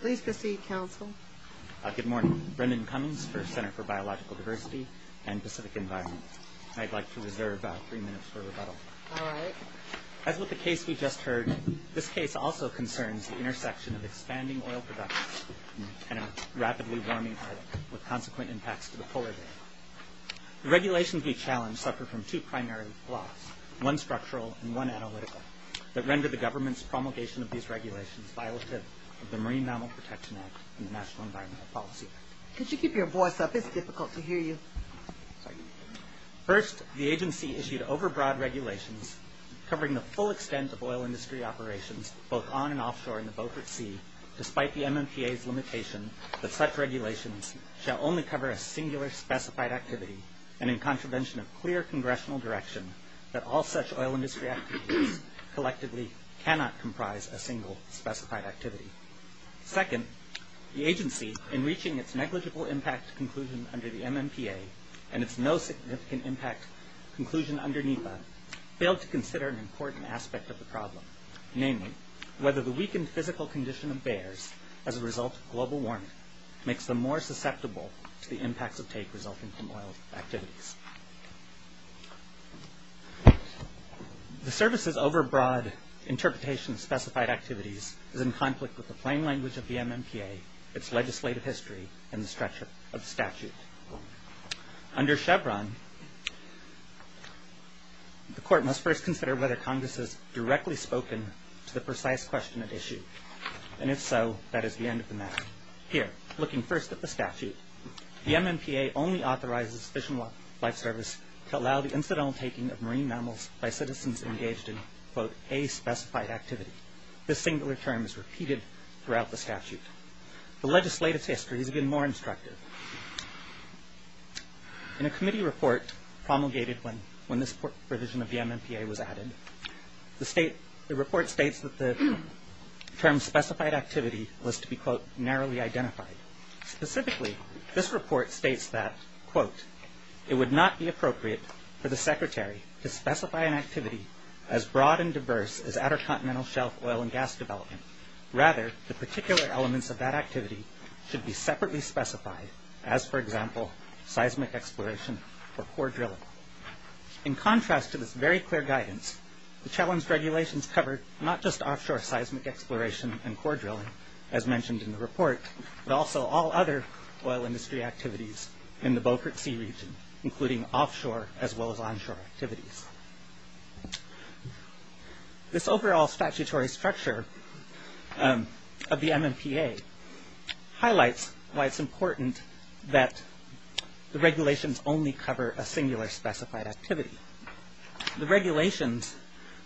Please proceed, Counsel. Good morning. Brendan Cummings for Center for Biological Diversity and Pacific Environment. I'd like to reserve three minutes for rebuttal. All right. As with the case we just heard, this case also concerns the intersection of expanding oil production and a rapidly warming climate with consequent impacts to the polar day. The regulations we challenge suffer from two primary flaws, one structural and one analytical, that render the government's promulgation of these regulations violative of the Marine Mammal Protection Act and the National Environmental Policy Act. Could you keep your voice up? It's difficult to hear you. First, the agency issued overbroad regulations covering the full extent of oil industry operations both on and offshore in the Beaufort Sea, despite the MMPA's limitation that such regulations shall only cover a singular specified activity and in contravention of clear congressional direction that all such oil industry activities collectively cannot comprise a single specified activity. Second, the agency, in reaching its negligible impact conclusion under the MMPA and its no significant impact conclusion under NEPA, failed to consider an important aspect of the problem, namely whether the weakened physical condition of bears as a result of global warming makes them more susceptible to the impacts of take resulting from oil activities. The service's overbroad interpretation of specified activities is in conflict with the plain language of the MMPA, its legislative history, and the structure of statute. Under Chevron, the court must first consider whether Congress has directly spoken to the precise question at issue, and if so, that is the end of the matter. Here, looking first at the statute, the MMPA only authorizes Fish and Wildlife Service to allow the incidental taking of marine mammals by citizens engaged in, quote, a specified activity. This singular term is repeated throughout the statute. The legislative history is even more instructive. In a committee report promulgated when this provision of the MMPA was added, the report states that the term specified activity was to be, quote, narrowly identified. Specifically, this report states that, quote, it would not be appropriate for the secretary to specify an activity as broad and diverse as outer continental shelf oil and gas development. Rather, the particular elements of that activity should be separately specified, as, for example, seismic exploration or core drilling. In contrast to this very clear guidance, the challenge regulations cover not just offshore seismic exploration and core drilling, as mentioned in the report, but also all other oil industry activities in the Beaufort Sea region, including offshore as well as onshore activities. This overall statutory structure of the MMPA highlights why it's important that the regulations only cover a singular specified activity. The regulations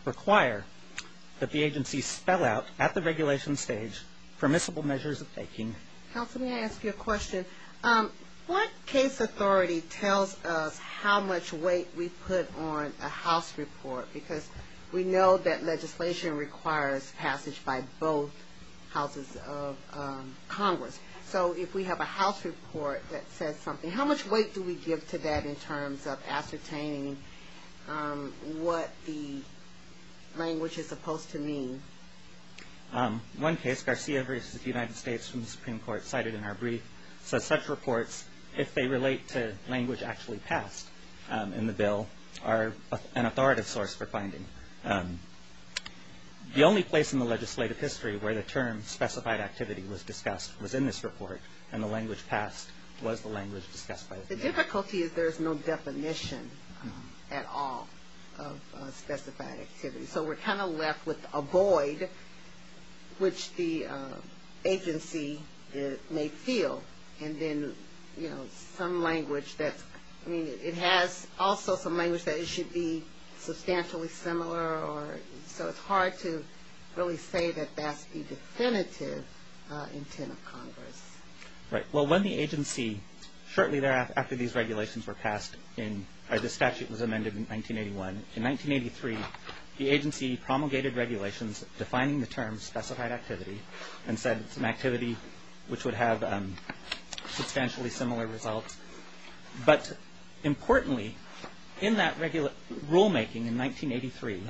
require that the agency spell out at the regulation stage permissible measures of taking. Counsel, may I ask you a question? What case authority tells us how much weight we put on a house report? Because we know that legislation requires passage by both houses of Congress. So if we have a house report that says something, how much weight do we give to that in terms of ascertaining what the language is supposed to mean? One case, Garcia v. United States, from the Supreme Court, cited in our brief, says such reports, if they relate to language actually passed in the bill, are an authoritative source for finding. The only place in the legislative history where the term specified activity was discussed was in this report, and the language passed was the language discussed by the bill. The difficulty is there's no definition at all of specified activity. So we're kind of left with a void, which the agency may feel, and then, you know, some language that's, I mean, it has also some language that it should be substantially similar or, so it's hard to really say that that's the definitive intent of Congress. Right. Well, when the agency, shortly thereafter, after these regulations were passed in, or the statute was amended in 1981, in 1983, the agency promulgated regulations defining the term specified activity and said it's an activity which would have substantially similar results. But importantly, in that rulemaking in 1983,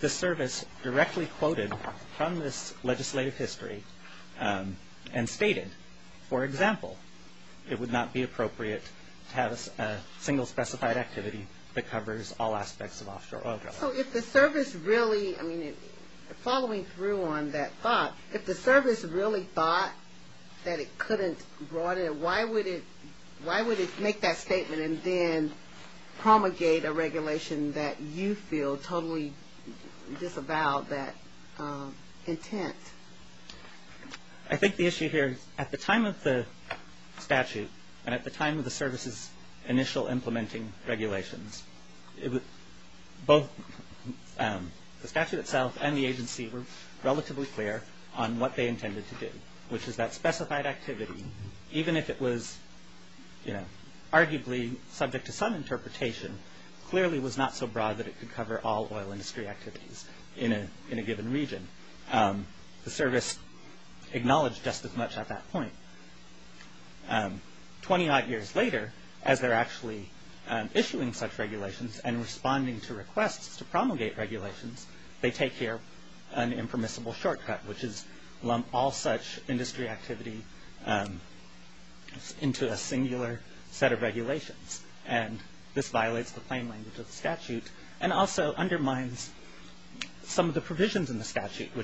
the service directly quoted from this legislative history and stated, for example, it would not be appropriate to have a single specified activity that covers all aspects of offshore oil drilling. So if the service really, I mean, following through on that thought, if the service really thought that it couldn't broaden, why would it make that statement and then promulgate a regulation that you feel totally disavowed that intent? I think the issue here is at the time of the statute and at the time of the service's initial implementing regulations, both the statute itself and the agency were relatively clear on what they intended to do, which is that specified activity, even if it was, you know, arguably subject to some interpretation, clearly was not so broad that it could cover all oil industry activities in a given region. The service acknowledged just as much at that point. Twenty-odd years later, as they're actually issuing such regulations and responding to requests to promulgate regulations, they take here an impermissible shortcut, which is lump all such industry activity into a singular set of regulations. And this violates the plain language of the statute which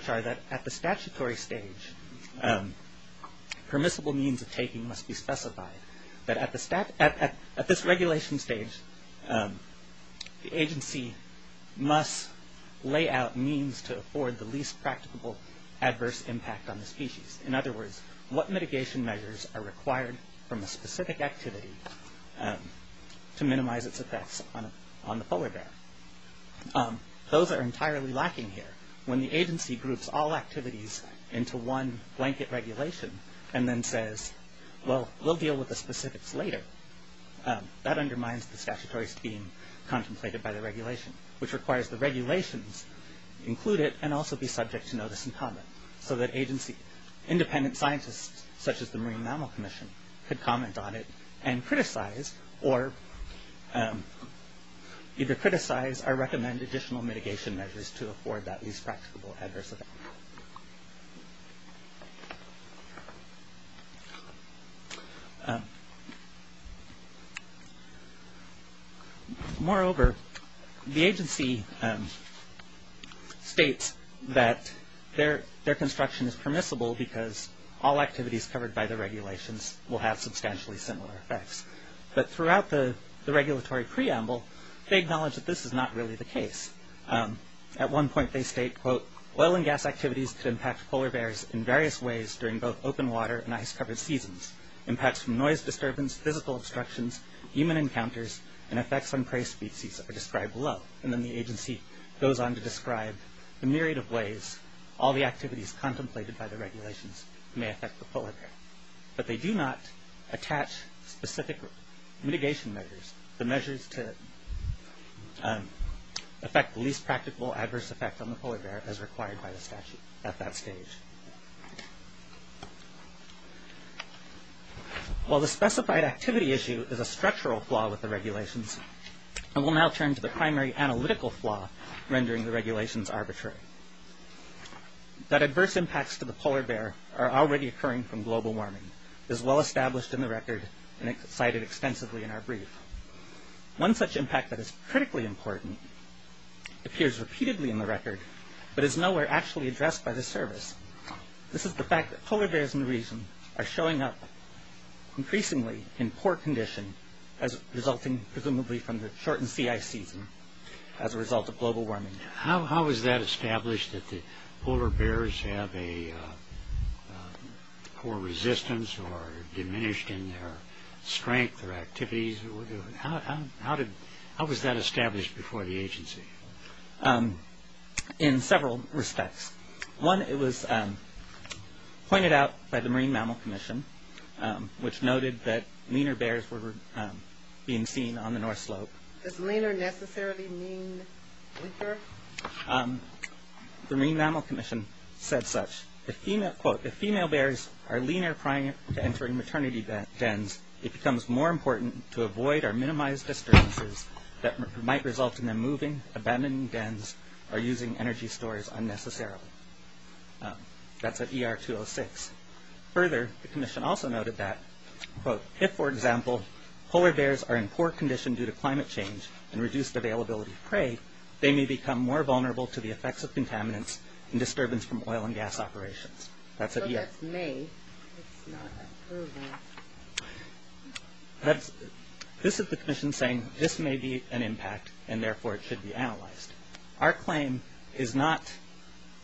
are that at the statutory stage, permissible means of taking must be specified. But at this regulation stage, the agency must lay out means to afford the least practicable adverse impact on the species. In other words, what mitigation measures are required from a specific activity to minimize its effects on the polar bear? Those are entirely lacking here. When the agency groups all activities into one blanket regulation and then says, well, we'll deal with the specifics later, that undermines the statutory scheme contemplated by the regulation, which requires the regulations included and also be subject to notice and comment so that independent scientists, such as the Marine Mammal Commission, could comment on it and criticize or either criticize or recommend additional mitigation measures to afford that least practicable adverse effect. Moreover, the agency states that their construction is permissible because all activities covered by the regulations will have substantially similar effects. But throughout the regulatory preamble, they acknowledge that this is not really the case. At one point they state, quote, oil and gas activities could impact polar bears in various ways during both open water and ice-covered seasons. Impacts from noise disturbance, physical obstructions, human encounters, and effects on prey species are described below. And then the agency goes on to describe the myriad of ways all the activities contemplated by the regulations may affect the polar bear. But they do not attach specific mitigation measures, the measures to affect the least practical adverse effect on the polar bear as required by the statute at that stage. While the specified activity issue is a structural flaw with the regulations, I will now turn to the primary analytical flaw rendering the regulations arbitrary. That adverse impacts to the polar bear are already occurring from global warming is well established in the record and cited extensively in our brief. One such impact that is critically important appears repeatedly in the record, but is nowhere actually addressed by the service. This is the fact that polar bears in the region are showing up increasingly in poor condition resulting presumably from the shortened sea ice season as a result of global warming. How was that established that the polar bears have a poor resistance or diminished in their strength or activities? How was that established before the agency? In several respects. One, it was pointed out by the Marine Mammal Commission, which noted that leaner bears were being seen on the North Slope. Does leaner necessarily mean weaker? The Marine Mammal Commission said such. If female bears are leaner prior to entering maternity dens, it becomes more important to avoid or minimize disturbances that might result in them moving, abandoning dens, or using energy stores unnecessarily. That's at ER 206. Further, the commission also noted that, quote, if, for example, polar bears are in poor condition due to climate change and reduced availability of prey, they may become more vulnerable to the effects of contaminants and disturbance from oil and gas operations. That's at ER. So that's may. It's not approval. This is the commission saying this may be an impact and therefore it should be analyzed. Our claim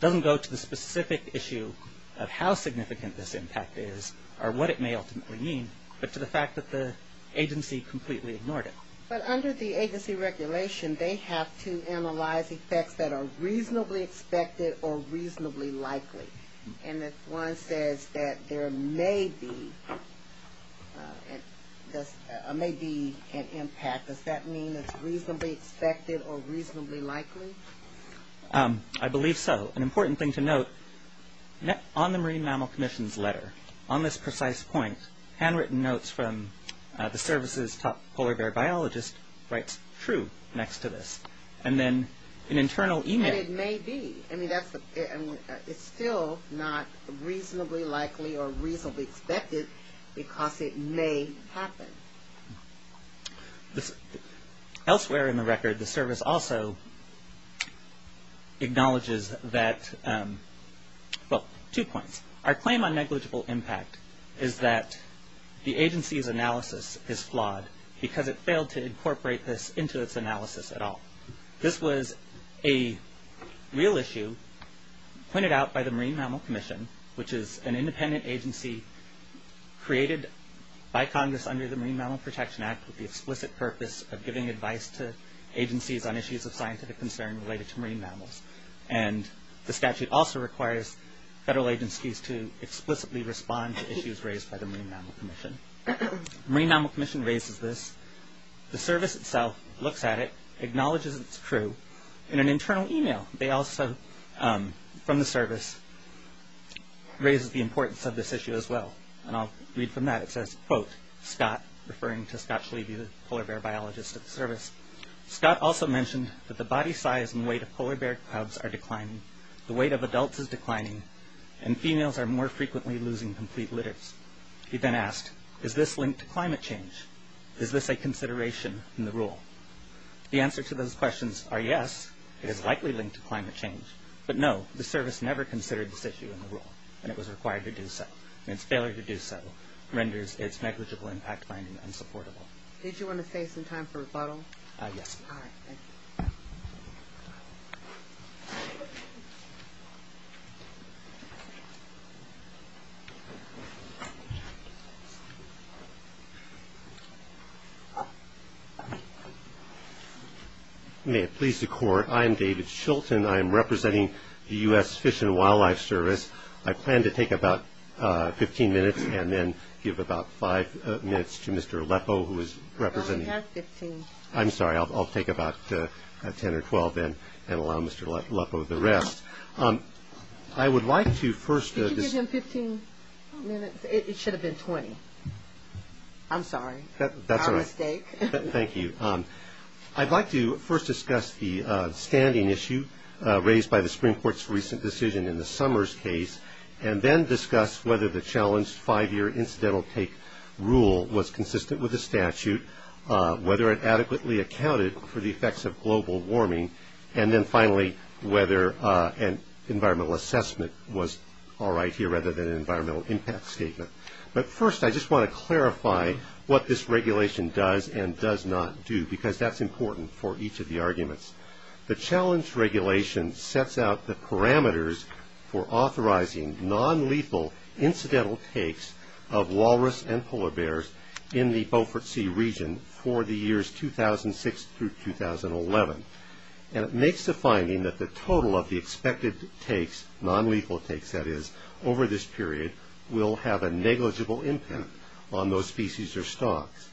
doesn't go to the specific issue of how significant this impact is or what it may ultimately mean, but to the fact that the agency completely ignored it. But under the agency regulation, they have to analyze effects that are reasonably expected or reasonably likely. And if one says that there may be an impact, does that mean it's reasonably expected or reasonably likely? I believe so. Also, an important thing to note, on the Marine Mammal Commission's letter, on this precise point, handwritten notes from the service's top polar bear biologist writes true next to this. And then an internal email. And it may be. I mean, it's still not reasonably likely or reasonably expected because it may happen. Elsewhere in the record, the service also acknowledges that, well, two points. Our claim on negligible impact is that the agency's analysis is flawed because it failed to incorporate this into its analysis at all. This was a real issue pointed out by the Marine Mammal Commission, which is an independent agency created by Congress under the Marine Mammal Protection Act with the explicit purpose of giving advice to agencies on issues of scientific concern related to marine mammals. And the statute also requires federal agencies to explicitly respond to issues raised by the Marine Mammal Commission. The Marine Mammal Commission raises this. The service itself looks at it, acknowledges it's true. In an internal email, they also, from the service, raise the importance of this issue as well. And I'll read from that. It says, quote, Scott, referring to Scott Shleby, the polar bear biologist at the service. Scott also mentioned that the body size and weight of polar bear cubs are declining, the weight of adults is declining, and females are more frequently losing complete litters. He then asked, is this linked to climate change? Is this a consideration in the rule? The answer to those questions are yes, it is likely linked to climate change. But no, the service never considered this issue in the rule, and it was required to do so. And its failure to do so renders its negligible impact finding unsupportable. Did you want to save some time for rebuttal? Yes. All right, thank you. May it please the Court, I am David Shilton. I am representing the U.S. Fish and Wildlife Service. I plan to take about 15 minutes and then give about five minutes to Mr. Lepo, who is representing. I only have 15. I'm sorry, I'll take about 10 or 12 then and allow Mr. Lepo the rest. I would like to first. Could you give him 15 minutes? It should have been 20. I'm sorry. That's all right. My mistake. Thank you. I'd like to first discuss the standing issue raised by the Supreme Court's recent decision in the Summers case and then discuss whether the challenged five-year incidental take rule was consistent with the statute, whether it adequately accounted for the effects of global warming, and then finally whether an environmental assessment was all right here rather than an environmental impact statement. But first I just want to clarify what this regulation does and does not do because that's important for each of the arguments. The challenge regulation sets out the parameters for authorizing nonlethal incidental takes of walrus and polar bears in the Beaufort Sea region for the years 2006 through 2011, and it makes the finding that the total of the expected takes, nonlethal takes that is, over this period, will have a negligible impact on those species or stocks.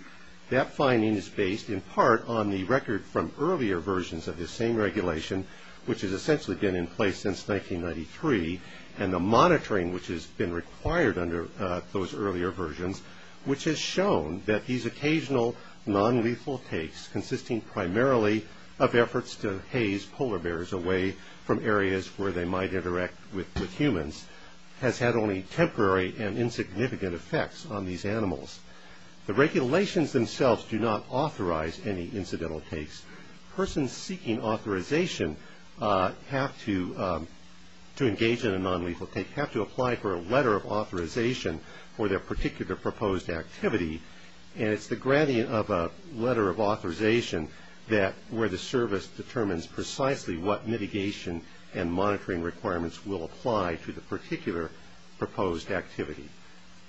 That finding is based in part on the record from earlier versions of this same regulation, which has essentially been in place since 1993, and the monitoring which has been required under those earlier versions, which has shown that these occasional nonlethal takes, consisting primarily of efforts to haze polar bears away from areas where they might interact with humans, has had only temporary and insignificant effects on these animals. The regulations themselves do not authorize any incidental takes. Persons seeking authorization to engage in a nonlethal take have to apply for a letter of authorization for their particular proposed activity, and it's the granting of a letter of authorization where the service determines precisely what mitigation and monitoring requirements will apply to the particular proposed activity.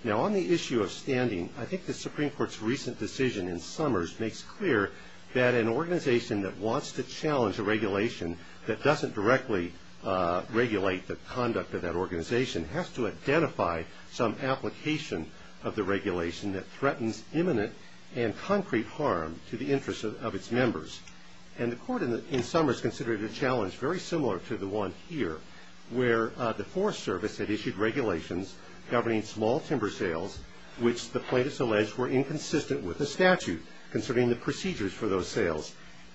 Now, on the issue of standing, I think the Supreme Court's recent decision in Summers makes clear that an organization that wants to challenge a regulation that doesn't directly regulate the conduct of that organization has to identify some application of the regulation that threatens imminent and concrete harm to the interests of its members. And the Court in Summers considered a challenge very similar to the one here, where the Forest Service had issued regulations governing small timber sales, which the plaintiffs alleged were inconsistent with the statute concerning the procedures for those sales.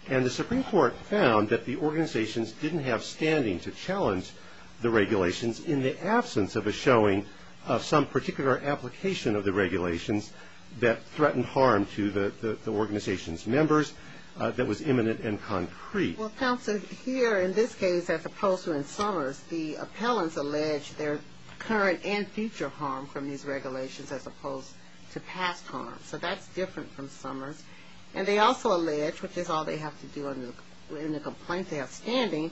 And the Supreme Court found that the organizations didn't have standing to challenge the regulations in the absence of a showing of some particular application of the regulations that threatened harm to the organization's members that was imminent and concrete. Well, counsel, here in this case, as opposed to in Summers, the appellants allege their current and future harm from these regulations as opposed to past harm. So that's different from Summers. And they also allege, which is all they have to do in the complaint they have standing,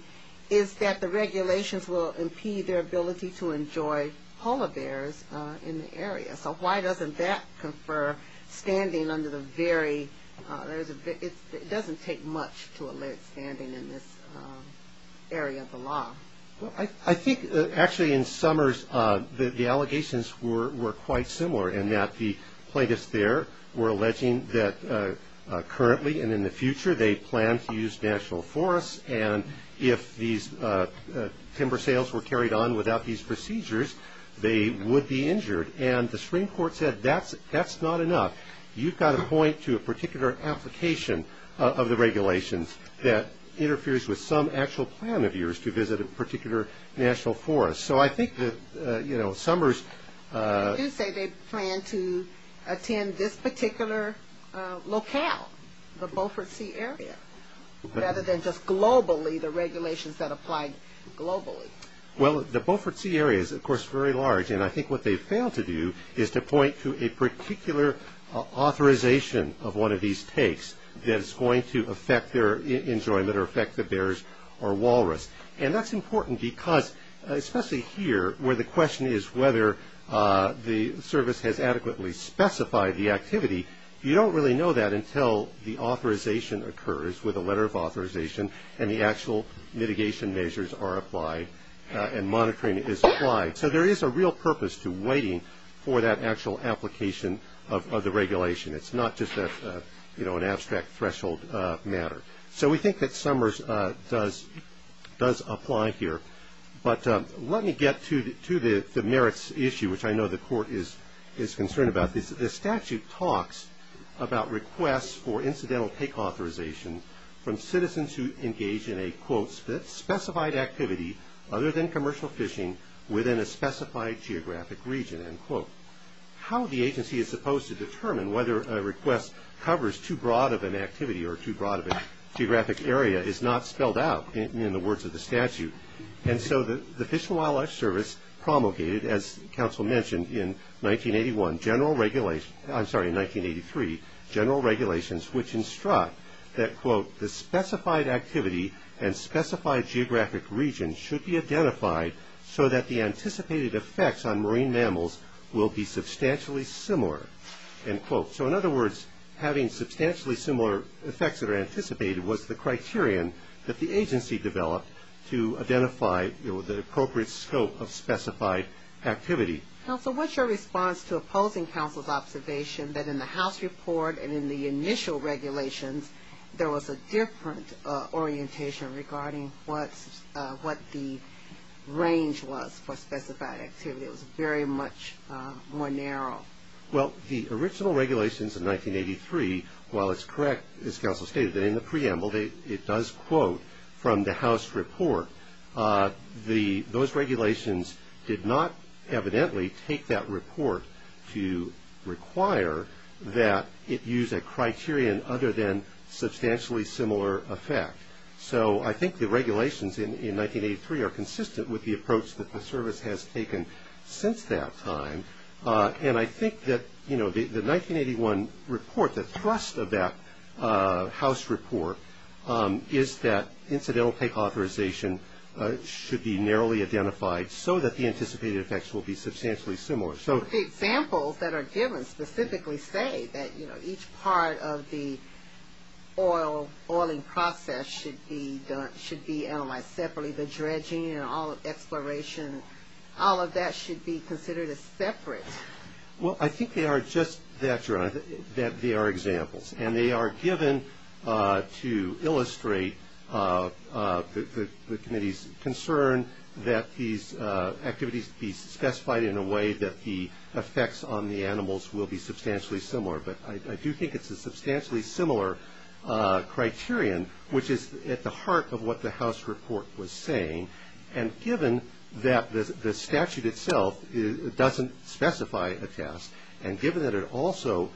is that the regulations will impede their ability to enjoy polar bears in the area. So why doesn't that confer standing under the very – it doesn't take much to allege standing in this area of the law. Well, I think, actually, in Summers, the allegations were quite similar in that the plaintiffs there were alleging that currently and in the future they plan to use national forests, and if these timber sales were carried on without these procedures, they would be injured. And the Supreme Court said that's not enough. You've got to point to a particular application of the regulations that interferes with some actual plan of yours to visit a particular national forest. So I think that, you know, Summers – They do say they plan to attend this particular locale, the Beaufort Sea area, rather than just globally the regulations that apply globally. Well, the Beaufort Sea area is, of course, very large, and I think what they've failed to do is to point to a particular authorization of one of these takes that is going to affect their enjoyment or affect the bears or walrus. And that's important because, especially here, where the question is whether the service has adequately specified the activity, you don't really know that until the authorization occurs with a letter of authorization and the actual mitigation measures are applied and monitoring is applied. So there is a real purpose to waiting for that actual application of the regulation. It's not just an abstract threshold matter. So we think that Summers does apply here. But let me get to the merits issue, which I know the Court is concerned about. The statute talks about requests for incidental take authorization from citizens who engage in a, quote, specified activity other than commercial fishing within a specified geographic region, end quote. How the agency is supposed to determine whether a request covers too broad of an activity or too broad of a geographic area is not spelled out in the words of the statute. And so the Fish and Wildlife Service promulgated, as counsel mentioned, in 1981, general regulation, I'm sorry, in 1983, general regulations which instruct that, quote, the specified activity and specified geographic region should be identified so that the anticipated effects on marine mammals will be substantially similar, end quote. So in other words, having substantially similar effects that are anticipated was the criterion that the agency developed to identify the appropriate scope of specified activity. Counsel, what's your response to opposing counsel's observation that in the House report and in the initial regulations there was a different orientation regarding what the range was for specified activity? It was very much more narrow. Well, the original regulations in 1983, while it's correct, as counsel stated, that in the preamble it does quote from the House report, those regulations did not evidently take that report to require that it use a criterion other than substantially similar effect. So I think the regulations in 1983 are consistent with the approach that the service has taken since that time. And I think that, you know, the 1981 report, the thrust of that House report, is that incidental take authorization should be narrowly identified so that the anticipated effects will be substantially similar. So the examples that are given specifically say that, you know, each part of the oiling process should be analyzed separately. The dredging and all of exploration, all of that should be considered as separate. Well, I think they are just that, that they are examples. And they are given to illustrate the committee's concern that these activities be specified in a way that the effects on the animals will be substantially similar. But I do think it's a substantially similar criterion, which is at the heart of what the House report was saying. And given that the statute itself doesn't specify a test, and given that it also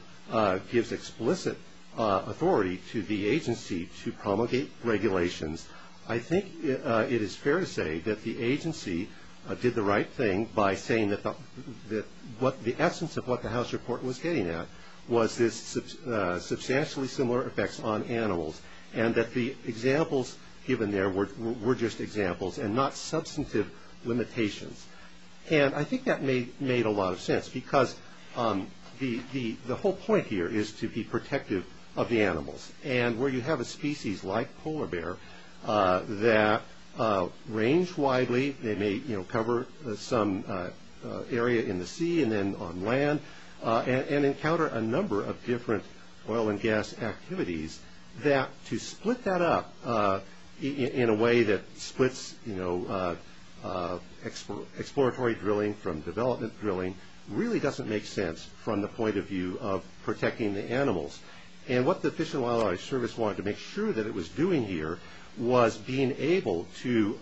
gives explicit authority to the agency to promulgate regulations, I think it is fair to say that the agency did the right thing by saying that the essence of what the House report was getting at was this substantially similar effects on animals, and that the examples given there were just examples and not substantive limitations. And I think that made a lot of sense because the whole point here is to be protective of the animals. And where you have a species like polar bear that range widely, they may cover some area in the sea and then on land, and encounter a number of different oil and gas activities, that to split that up in a way that splits exploratory drilling from development drilling really doesn't make sense from the point of view of protecting the animals. And what the Fish and Wildlife Service wanted to make sure that it was doing here was being able to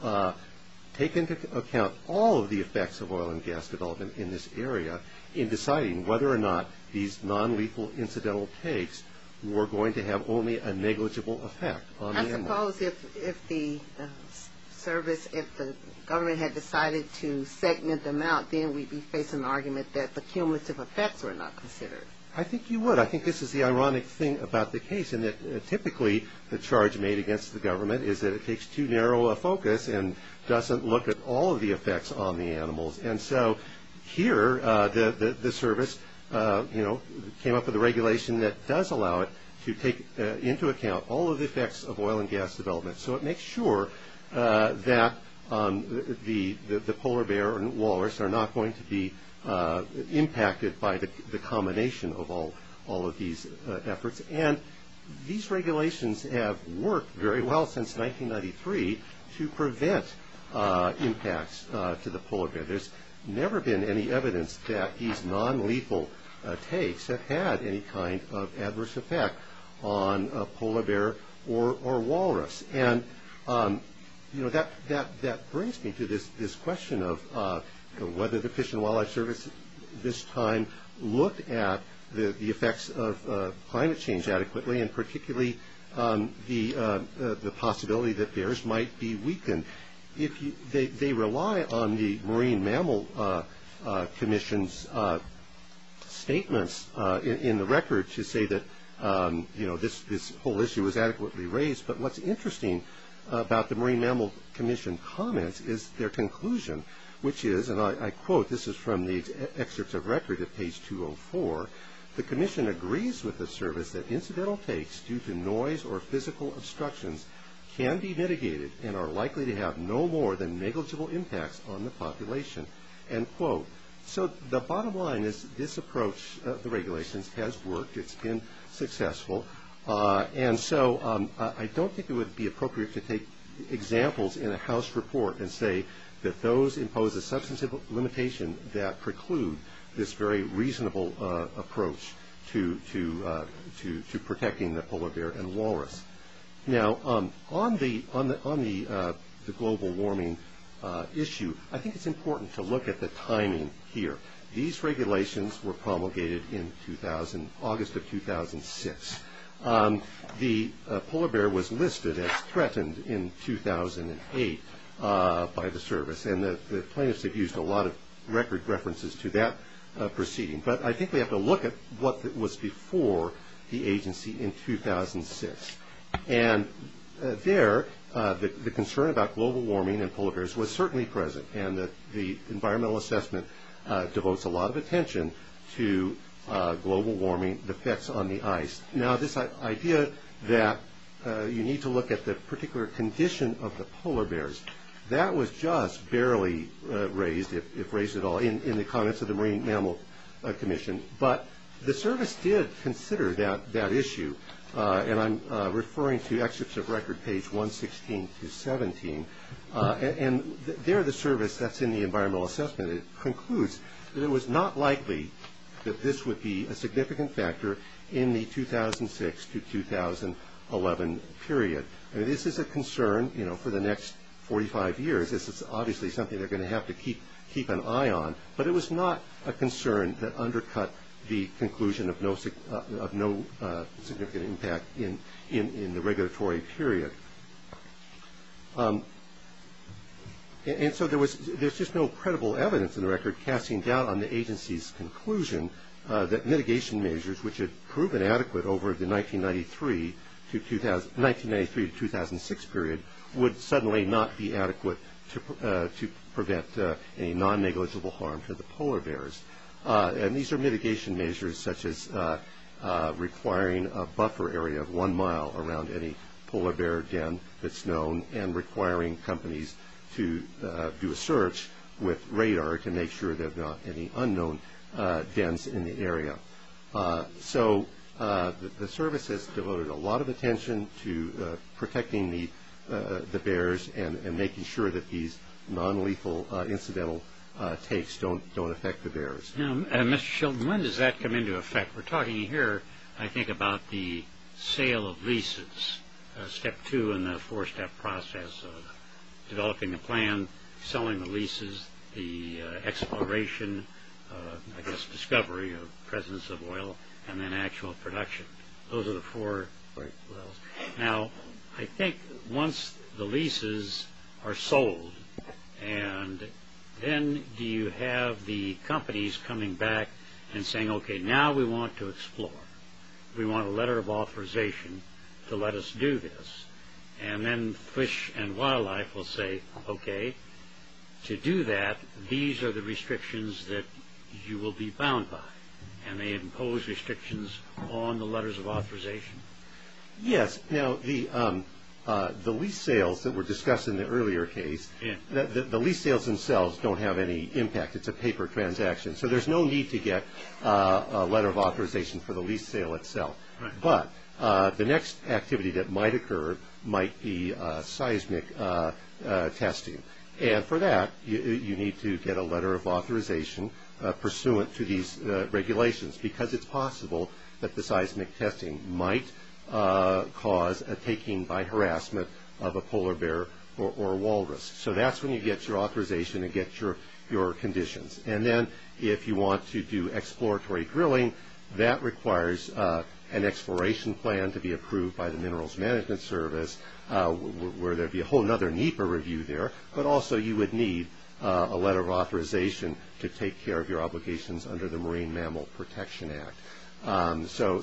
take into account all of the effects of oil and gas development in this area in deciding whether or not these non-lethal incidental takes were going to have only a negligible effect on the animals. I suppose if the service, if the government had decided to segment them out, then we'd be facing an argument that the cumulative effects were not considered. I think you would. But I think this is the ironic thing about the case in that typically the charge made against the government is that it takes too narrow a focus and doesn't look at all of the effects on the animals. And so here the service came up with a regulation that does allow it to take into account all of the effects of oil and gas development. So it makes sure that the polar bear and walrus are not going to be impacted by the combination of all of these efforts. And these regulations have worked very well since 1993 to prevent impacts to the polar bear. There's never been any evidence that these non-lethal takes have had any kind of adverse effect on a polar bear or walrus. And that brings me to this question of whether the Fish and Wildlife Service this time looked at the effects of climate change adequately, and particularly the possibility that bears might be weakened. They rely on the Marine Mammal Commission's statements in the record to say that this whole issue was adequately raised. But what's interesting about the Marine Mammal Commission comments is their conclusion, which is, and I quote, this is from the excerpts of record at page 204, the commission agrees with the service that incidental takes due to noise or physical obstructions can be mitigated and are likely to have no more than negligible impacts on the population. So the bottom line is this approach, the regulations, has worked. It's been successful. And so I don't think it would be appropriate to take examples in a House report and say that those impose a substantive limitation that preclude this very reasonable approach to protecting the polar bear and walrus. Now, on the global warming issue, I think it's important to look at the timing here. These regulations were promulgated in August of 2006. The polar bear was listed as threatened in 2008 by the service, and the plaintiffs have used a lot of record references to that proceeding. But I think we have to look at what was before the agency in 2006. And there, the concern about global warming and polar bears was certainly present, and the environmental assessment devotes a lot of attention to global warming, the effects on the ice. Now, this idea that you need to look at the particular condition of the polar bears, that was just barely raised, if raised at all, in the comments of the Marine Mammal Commission. But the service did consider that issue, and I'm referring to excerpts of record page 116 to 117. And there, the service, that's in the environmental assessment, it concludes that it was not likely that this would be a significant factor in the 2006 to 2011 period. This is a concern, you know, for the next 45 years. This is obviously something they're going to have to keep an eye on. But it was not a concern that undercut the conclusion of no significant impact in the regulatory period. And so there's just no credible evidence in the record casting doubt on the agency's conclusion that mitigation measures, which had proven adequate over the 1993 to 2006 period, would suddenly not be adequate to prevent a non-negligible harm to the polar bears. And these are mitigation measures such as requiring a buffer area of one mile around any polar bear den that's known, and requiring companies to do a search with radar to make sure there's not any unknown dens in the area. So the service has devoted a lot of attention to protecting the bears and making sure that these non-lethal incidental takes don't affect the bears. Now, Mr. Shilton, when does that come into effect? We're talking here, I think, about the sale of leases. Step two in the four-step process of developing a plan, selling the leases, the exploration, I guess, discovery of presence of oil, and then actual production. Those are the four levels. Now, I think once the leases are sold, and then you have the companies coming back and saying, okay, now we want to explore. We want a letter of authorization to let us do this. And then fish and wildlife will say, okay, to do that, these are the restrictions that you will be bound by. And they impose restrictions on the letters of authorization. Yes. Now, the lease sales that were discussed in the earlier case, the lease sales themselves don't have any impact. It's a paper transaction. So there's no need to get a letter of authorization for the lease sale itself. But the next activity that might occur might be seismic testing. And for that, you need to get a letter of authorization pursuant to these regulations because it's possible that the seismic testing might cause a taking by harassment of a polar bear or a walrus. So that's when you get your authorization and get your conditions. And then if you want to do exploratory drilling, that requires an exploration plan to be approved by the Minerals Management Service, where there would be a whole other, neater review there. But also you would need a letter of authorization to take care of your obligations under the Marine Mammal Protection Act. So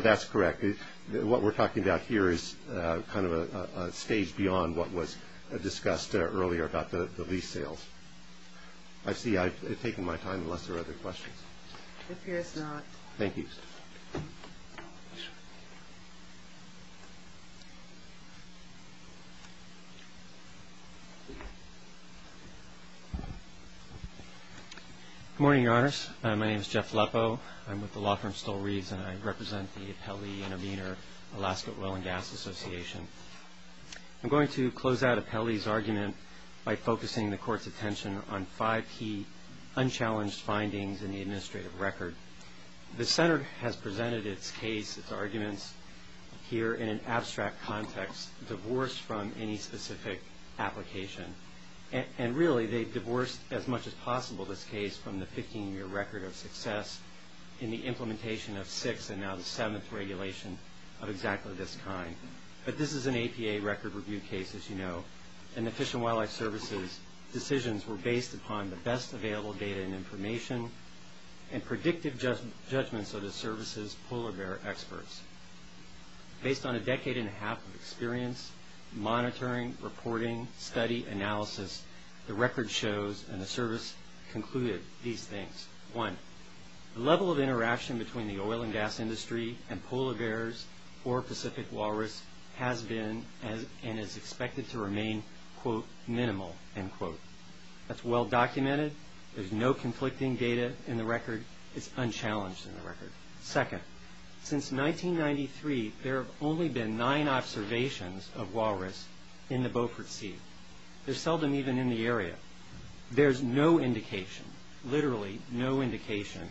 that's correct. What we're talking about here is kind of a stage beyond what was discussed earlier about the lease sales. I see. I've taken my time unless there are other questions. It appears not. Thank you. Good morning, Your Honors. My name is Jeff Leppo. I'm with the law firm Stull Reeves, and I represent the Apelli and Aminor Alaska Oil and Gas Association. I'm going to close out Apelli's argument by focusing the Court's attention on five key unchallenged findings in the administrative record. The Center has presented its case, its arguments, here in an abstract context, divorced from any specific application. And really they've divorced as much as possible this case from the 15-year record of success in the implementation of six and now the seventh regulation of exactly this kind. But this is an APA record review case, as you know, and the Fish and Wildlife Service's decisions were based upon the best available data and information and predictive judgments of the Service's polar bear experts. Based on a decade and a half of experience, monitoring, reporting, study, analysis, the record shows and the Service concluded these things. One, the level of interaction between the oil and gas industry and polar bears or Pacific walrus has been and is expected to remain, quote, minimal, end quote. That's well documented. There's no conflicting data in the record. It's unchallenged in the record. Second, since 1993 there have only been nine observations of walrus in the Beaufort Sea. They're seldom even in the area. There's no indication, literally no indication,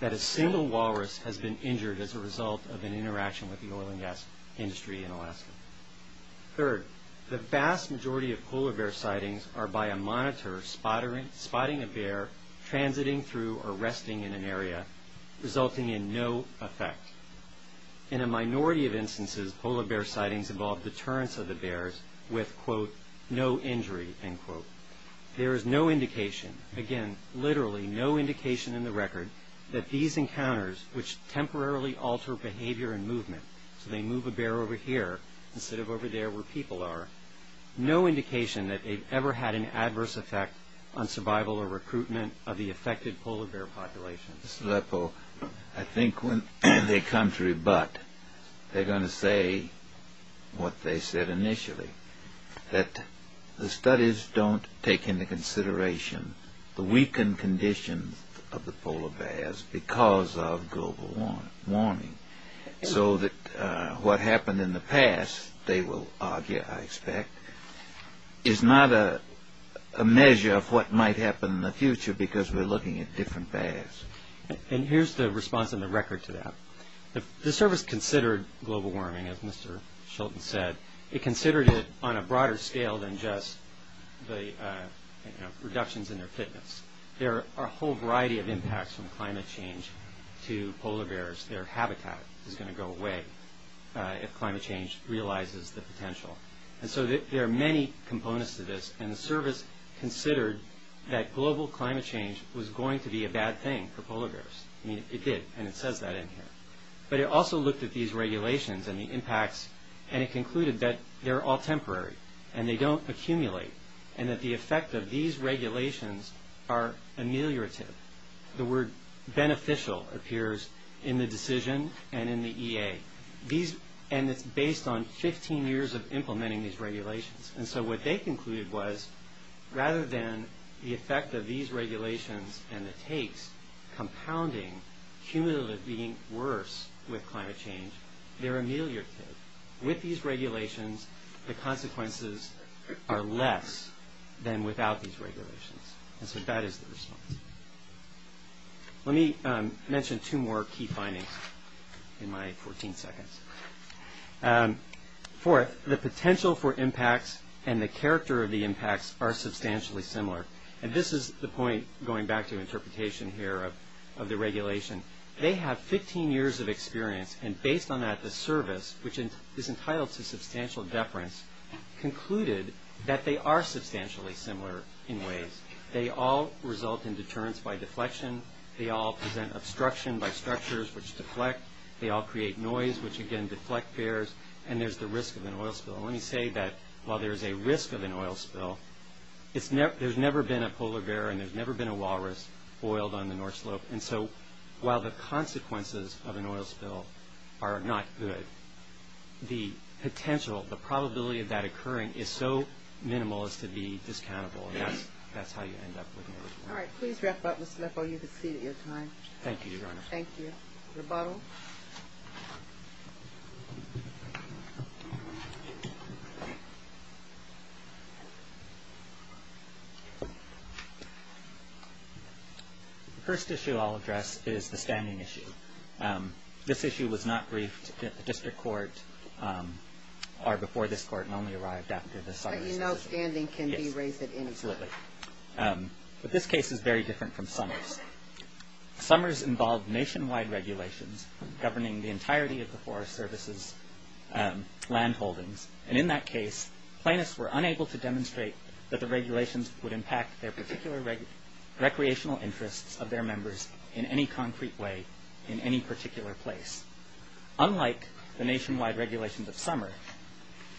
that a single walrus has been injured as a result of an interaction with the oil and gas industry in Alaska. Third, the vast majority of polar bear sightings are by a monitor spotting a bear transiting through or resting in an area, resulting in no effect. In a minority of instances, polar bear sightings involve deterrence of the bears with, quote, no injury, end quote. There is no indication, again, literally no indication in the record, that these encounters, which temporarily alter behavior and movement, so they move a bear over here instead of over there where people are, no indication that they've ever had an adverse effect on survival or recruitment of the affected polar bear population. Mr. Lepo, I think when they come to rebut, they're going to say what they said initially, that the studies don't take into consideration the weakened conditions of the polar bears because of global warming, so that what happened in the past, they will argue, I expect, is not a measure of what might happen in the future because we're looking at different bears. And here's the response in the record to that. The service considered global warming, as Mr. Schulten said. It considered it on a broader scale than just the reductions in their fitness. There are a whole variety of impacts from climate change to polar bears. Their habitat is going to go away if climate change realizes the potential. And so there are many components to this, and the service considered that global climate change was going to be a bad thing for polar bears. I mean, it did, and it says that in here. But it also looked at these regulations and the impacts, and it concluded that they're all temporary and they don't accumulate, and that the effect of these regulations are ameliorative. The word beneficial appears in the decision and in the EA. And so what they concluded was rather than the effect of these regulations and the takes compounding cumulative being worse with climate change, they're ameliorative. With these regulations, the consequences are less than without these regulations. And so that is the response. Let me mention two more key findings in my 14 seconds. Fourth, the potential for impacts and the character of the impacts are substantially similar. And this is the point, going back to interpretation here of the regulation. They have 15 years of experience, and based on that, the service, which is entitled to substantial deference, concluded that they are substantially similar in ways. They all result in deterrence by deflection. They all present obstruction by structures which deflect. They all create noise, which, again, deflect bears, and there's the risk of an oil spill. And let me say that while there is a risk of an oil spill, there's never been a polar bear and there's never been a walrus oiled on the North Slope. And so while the consequences of an oil spill are not good, the potential, the probability of that occurring is so minimal as to be discountable, and that's how you end up with an oil spill. All right. Please wrap up, Mr. Leffel. You have exceeded your time. Thank you, Your Honor. Thank you. Rebuttal. The first issue I'll address is the standing issue. This issue was not briefed at the district court or before this court and only arrived after the summary session. But you know standing can be raised at any time. Yes, absolutely. But this case is very different from Summers. Summers involved nationwide regulations governing the entirety of the Forest Service's land holdings. And in that case, plaintiffs were unable to demonstrate that the regulations would impact their particular recreational interests of their members in any concrete way in any particular place. Unlike the nationwide regulations of Summers,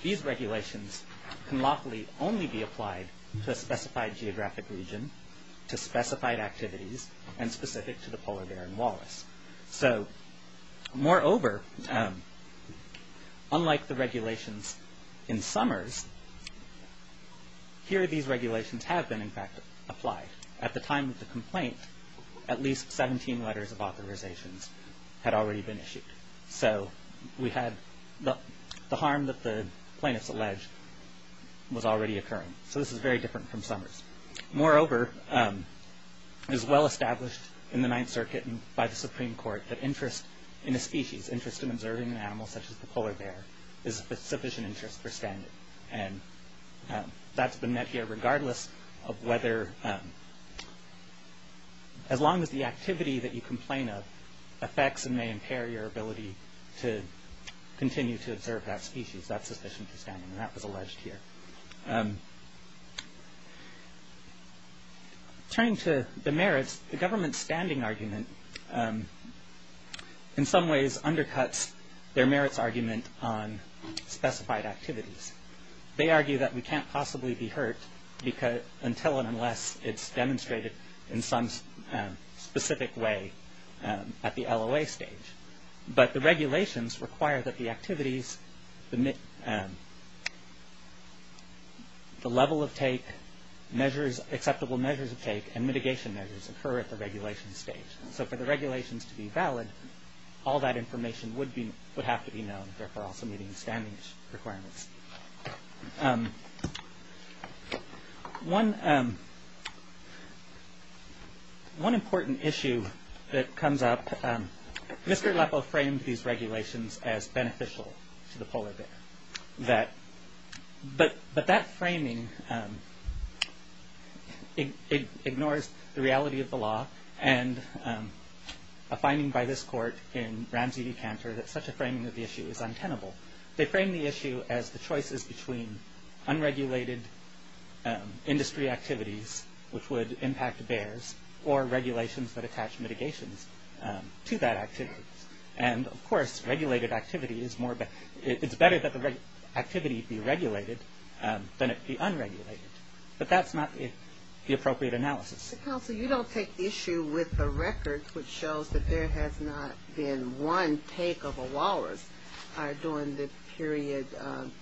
these regulations can lawfully only be applied to a specified geographic region, to specified activities, and specific to the polar bear in Wallace. So moreover, unlike the regulations in Summers, here these regulations have been, in fact, applied. At the time of the complaint, at least 17 letters of authorizations had already been issued. So we had the harm that the plaintiffs alleged was already occurring. So this is very different from Summers. Moreover, it is well established in the Ninth Circuit and by the Supreme Court that interest in a species, interest in observing an animal such as the polar bear, is of sufficient interest for standing. And that's been met here regardless of whether, as long as the activity that you complain of affects and may impair your ability to continue to observe that species, that's sufficient for standing. And that was alleged here. Turning to the merits, the government's standing argument, in some ways undercuts their merits argument on specified activities. They argue that we can't possibly be hurt until and unless it's demonstrated in some specific way at the LOA stage. But the regulations require that the activities, the level of take, acceptable measures of take, and mitigation measures occur at the regulation stage. So for the regulations to be valid, all that information would have to be known, therefore also meeting the standing requirements. One important issue that comes up, Mr. Aleppo framed these regulations as beneficial to the polar bear. But that framing ignores the reality of the law and a finding by this court in Ramsey v. Cantor that such a framing of the issue is untenable. They frame the issue as the choices between unregulated industry activities, which would impact bears, or regulations that attach mitigations to that activity. And, of course, regulated activity is more, it's better that the activity be regulated than it be unregulated. But that's not the appropriate analysis. Counsel, you don't take issue with the record, which shows that there has not been one take of a walrus during the period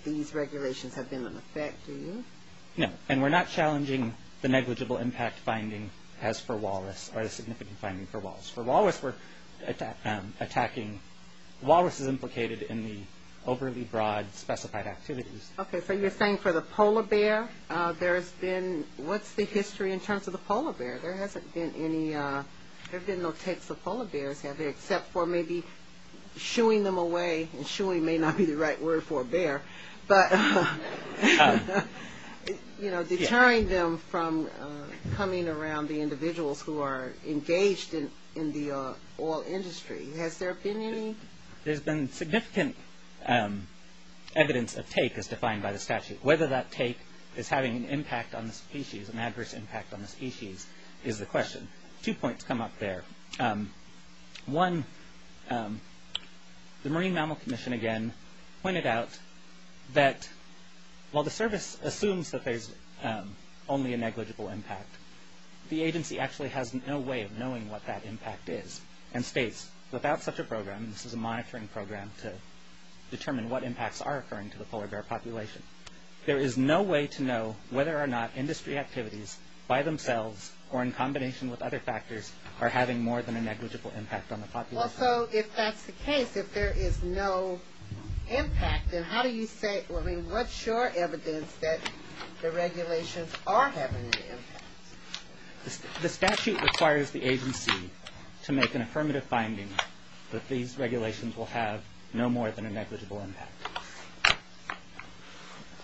these regulations have been in effect, do you? No, and we're not challenging the negligible impact finding as for walrus, or the significant finding for walrus. For walrus, we're attacking, walrus is implicated in the overly broad specified activities. Okay, so you're saying for the polar bear, there has been, what's the history in terms of the polar bear? There hasn't been any, there have been no takes of polar bears, have there, except for maybe shooing them away, and shooing may not be the right word for a bear, but, you know, deterring them from coming around the individuals who are engaged in the oil industry. Has there been any? There's been significant evidence of take as defined by the statute. Whether that take is having an impact on the species, an adverse impact on the species, is the question. Two points come up there. One, the Marine Mammal Commission, again, pointed out that while the service assumes that there's only a negligible impact, the agency actually has no way of knowing what that impact is, and states, without such a program, this is a monitoring program to determine what impacts are occurring to the polar bear population, there is no way to know whether or not industry activities by themselves or in combination with other factors are having more than a negligible impact on the population. Also, if that's the case, if there is no impact, then how do you say, I mean, what's your evidence that the regulations are having an impact? The statute requires the agency to make an affirmative finding that these regulations will have no more than a negligible impact.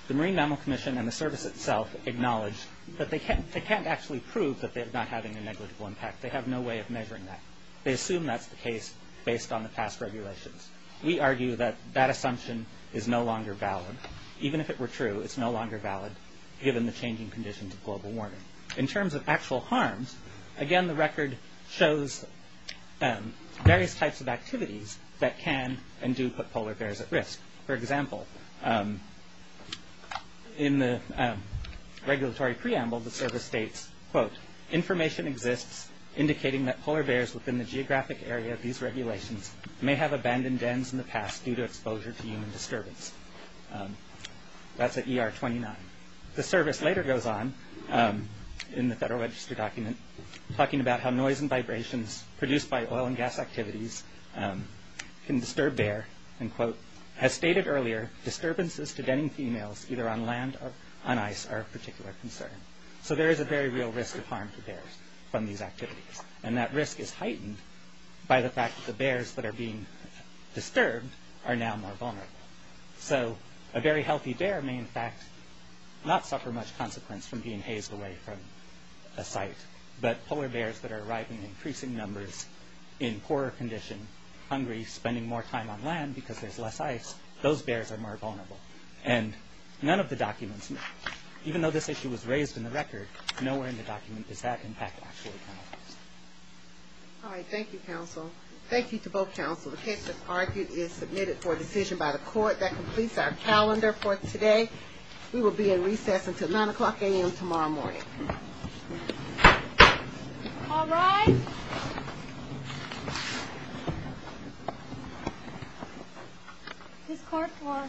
The Marine Mammal Commission and the service itself acknowledge that they can't actually prove that they're not having a negligible impact. They have no way of measuring that. They assume that's the case based on the past regulations. We argue that that assumption is no longer valid. Even if it were true, it's no longer valid, given the changing conditions of global warming. In terms of actual harms, again, the record shows various types of activities that can and do put polar bears at risk. For example, in the regulatory preamble, the service states, quote, information exists indicating that polar bears within the geographic area of these regulations may have abandoned dens in the past due to exposure to human disturbance. That's at ER 29. The service later goes on in the Federal Register document talking about how noise and vibrations produced by oil and gas activities can disturb bear, and quote, as stated earlier, disturbances to denning females either on land or on ice are of particular concern. So there is a very real risk of harm to bears from these activities. And that risk is heightened by the fact that the bears that are being disturbed are now more vulnerable. So a very healthy bear may, in fact, not suffer much consequence from being hazed away from a site, but polar bears that are arriving in increasing numbers in poorer condition, hungry, spending more time on land because there's less ice, those bears are more vulnerable. And none of the documents, even though this issue was raised in the record, nowhere in the document does that impact actually count. All right, thank you, counsel. Thank you to both counsel. The case that's argued is submitted for decision by the court. That completes our calendar for today. We will be in recess until 9 o'clock a.m. tomorrow morning. All rise. This court for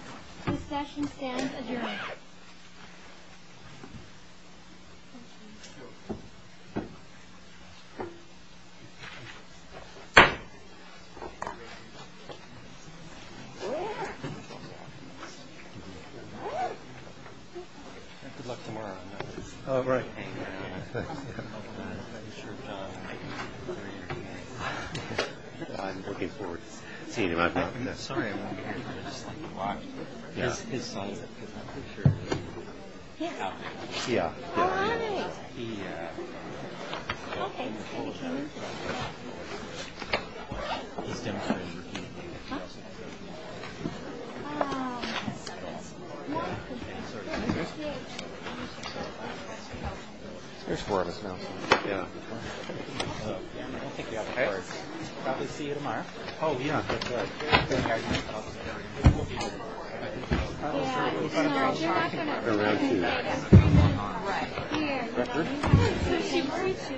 this session stands adjourned. Thank you. Yeah. There's four of us now. Okay. We'll probably see you tomorrow. We're going to see you. Thank you.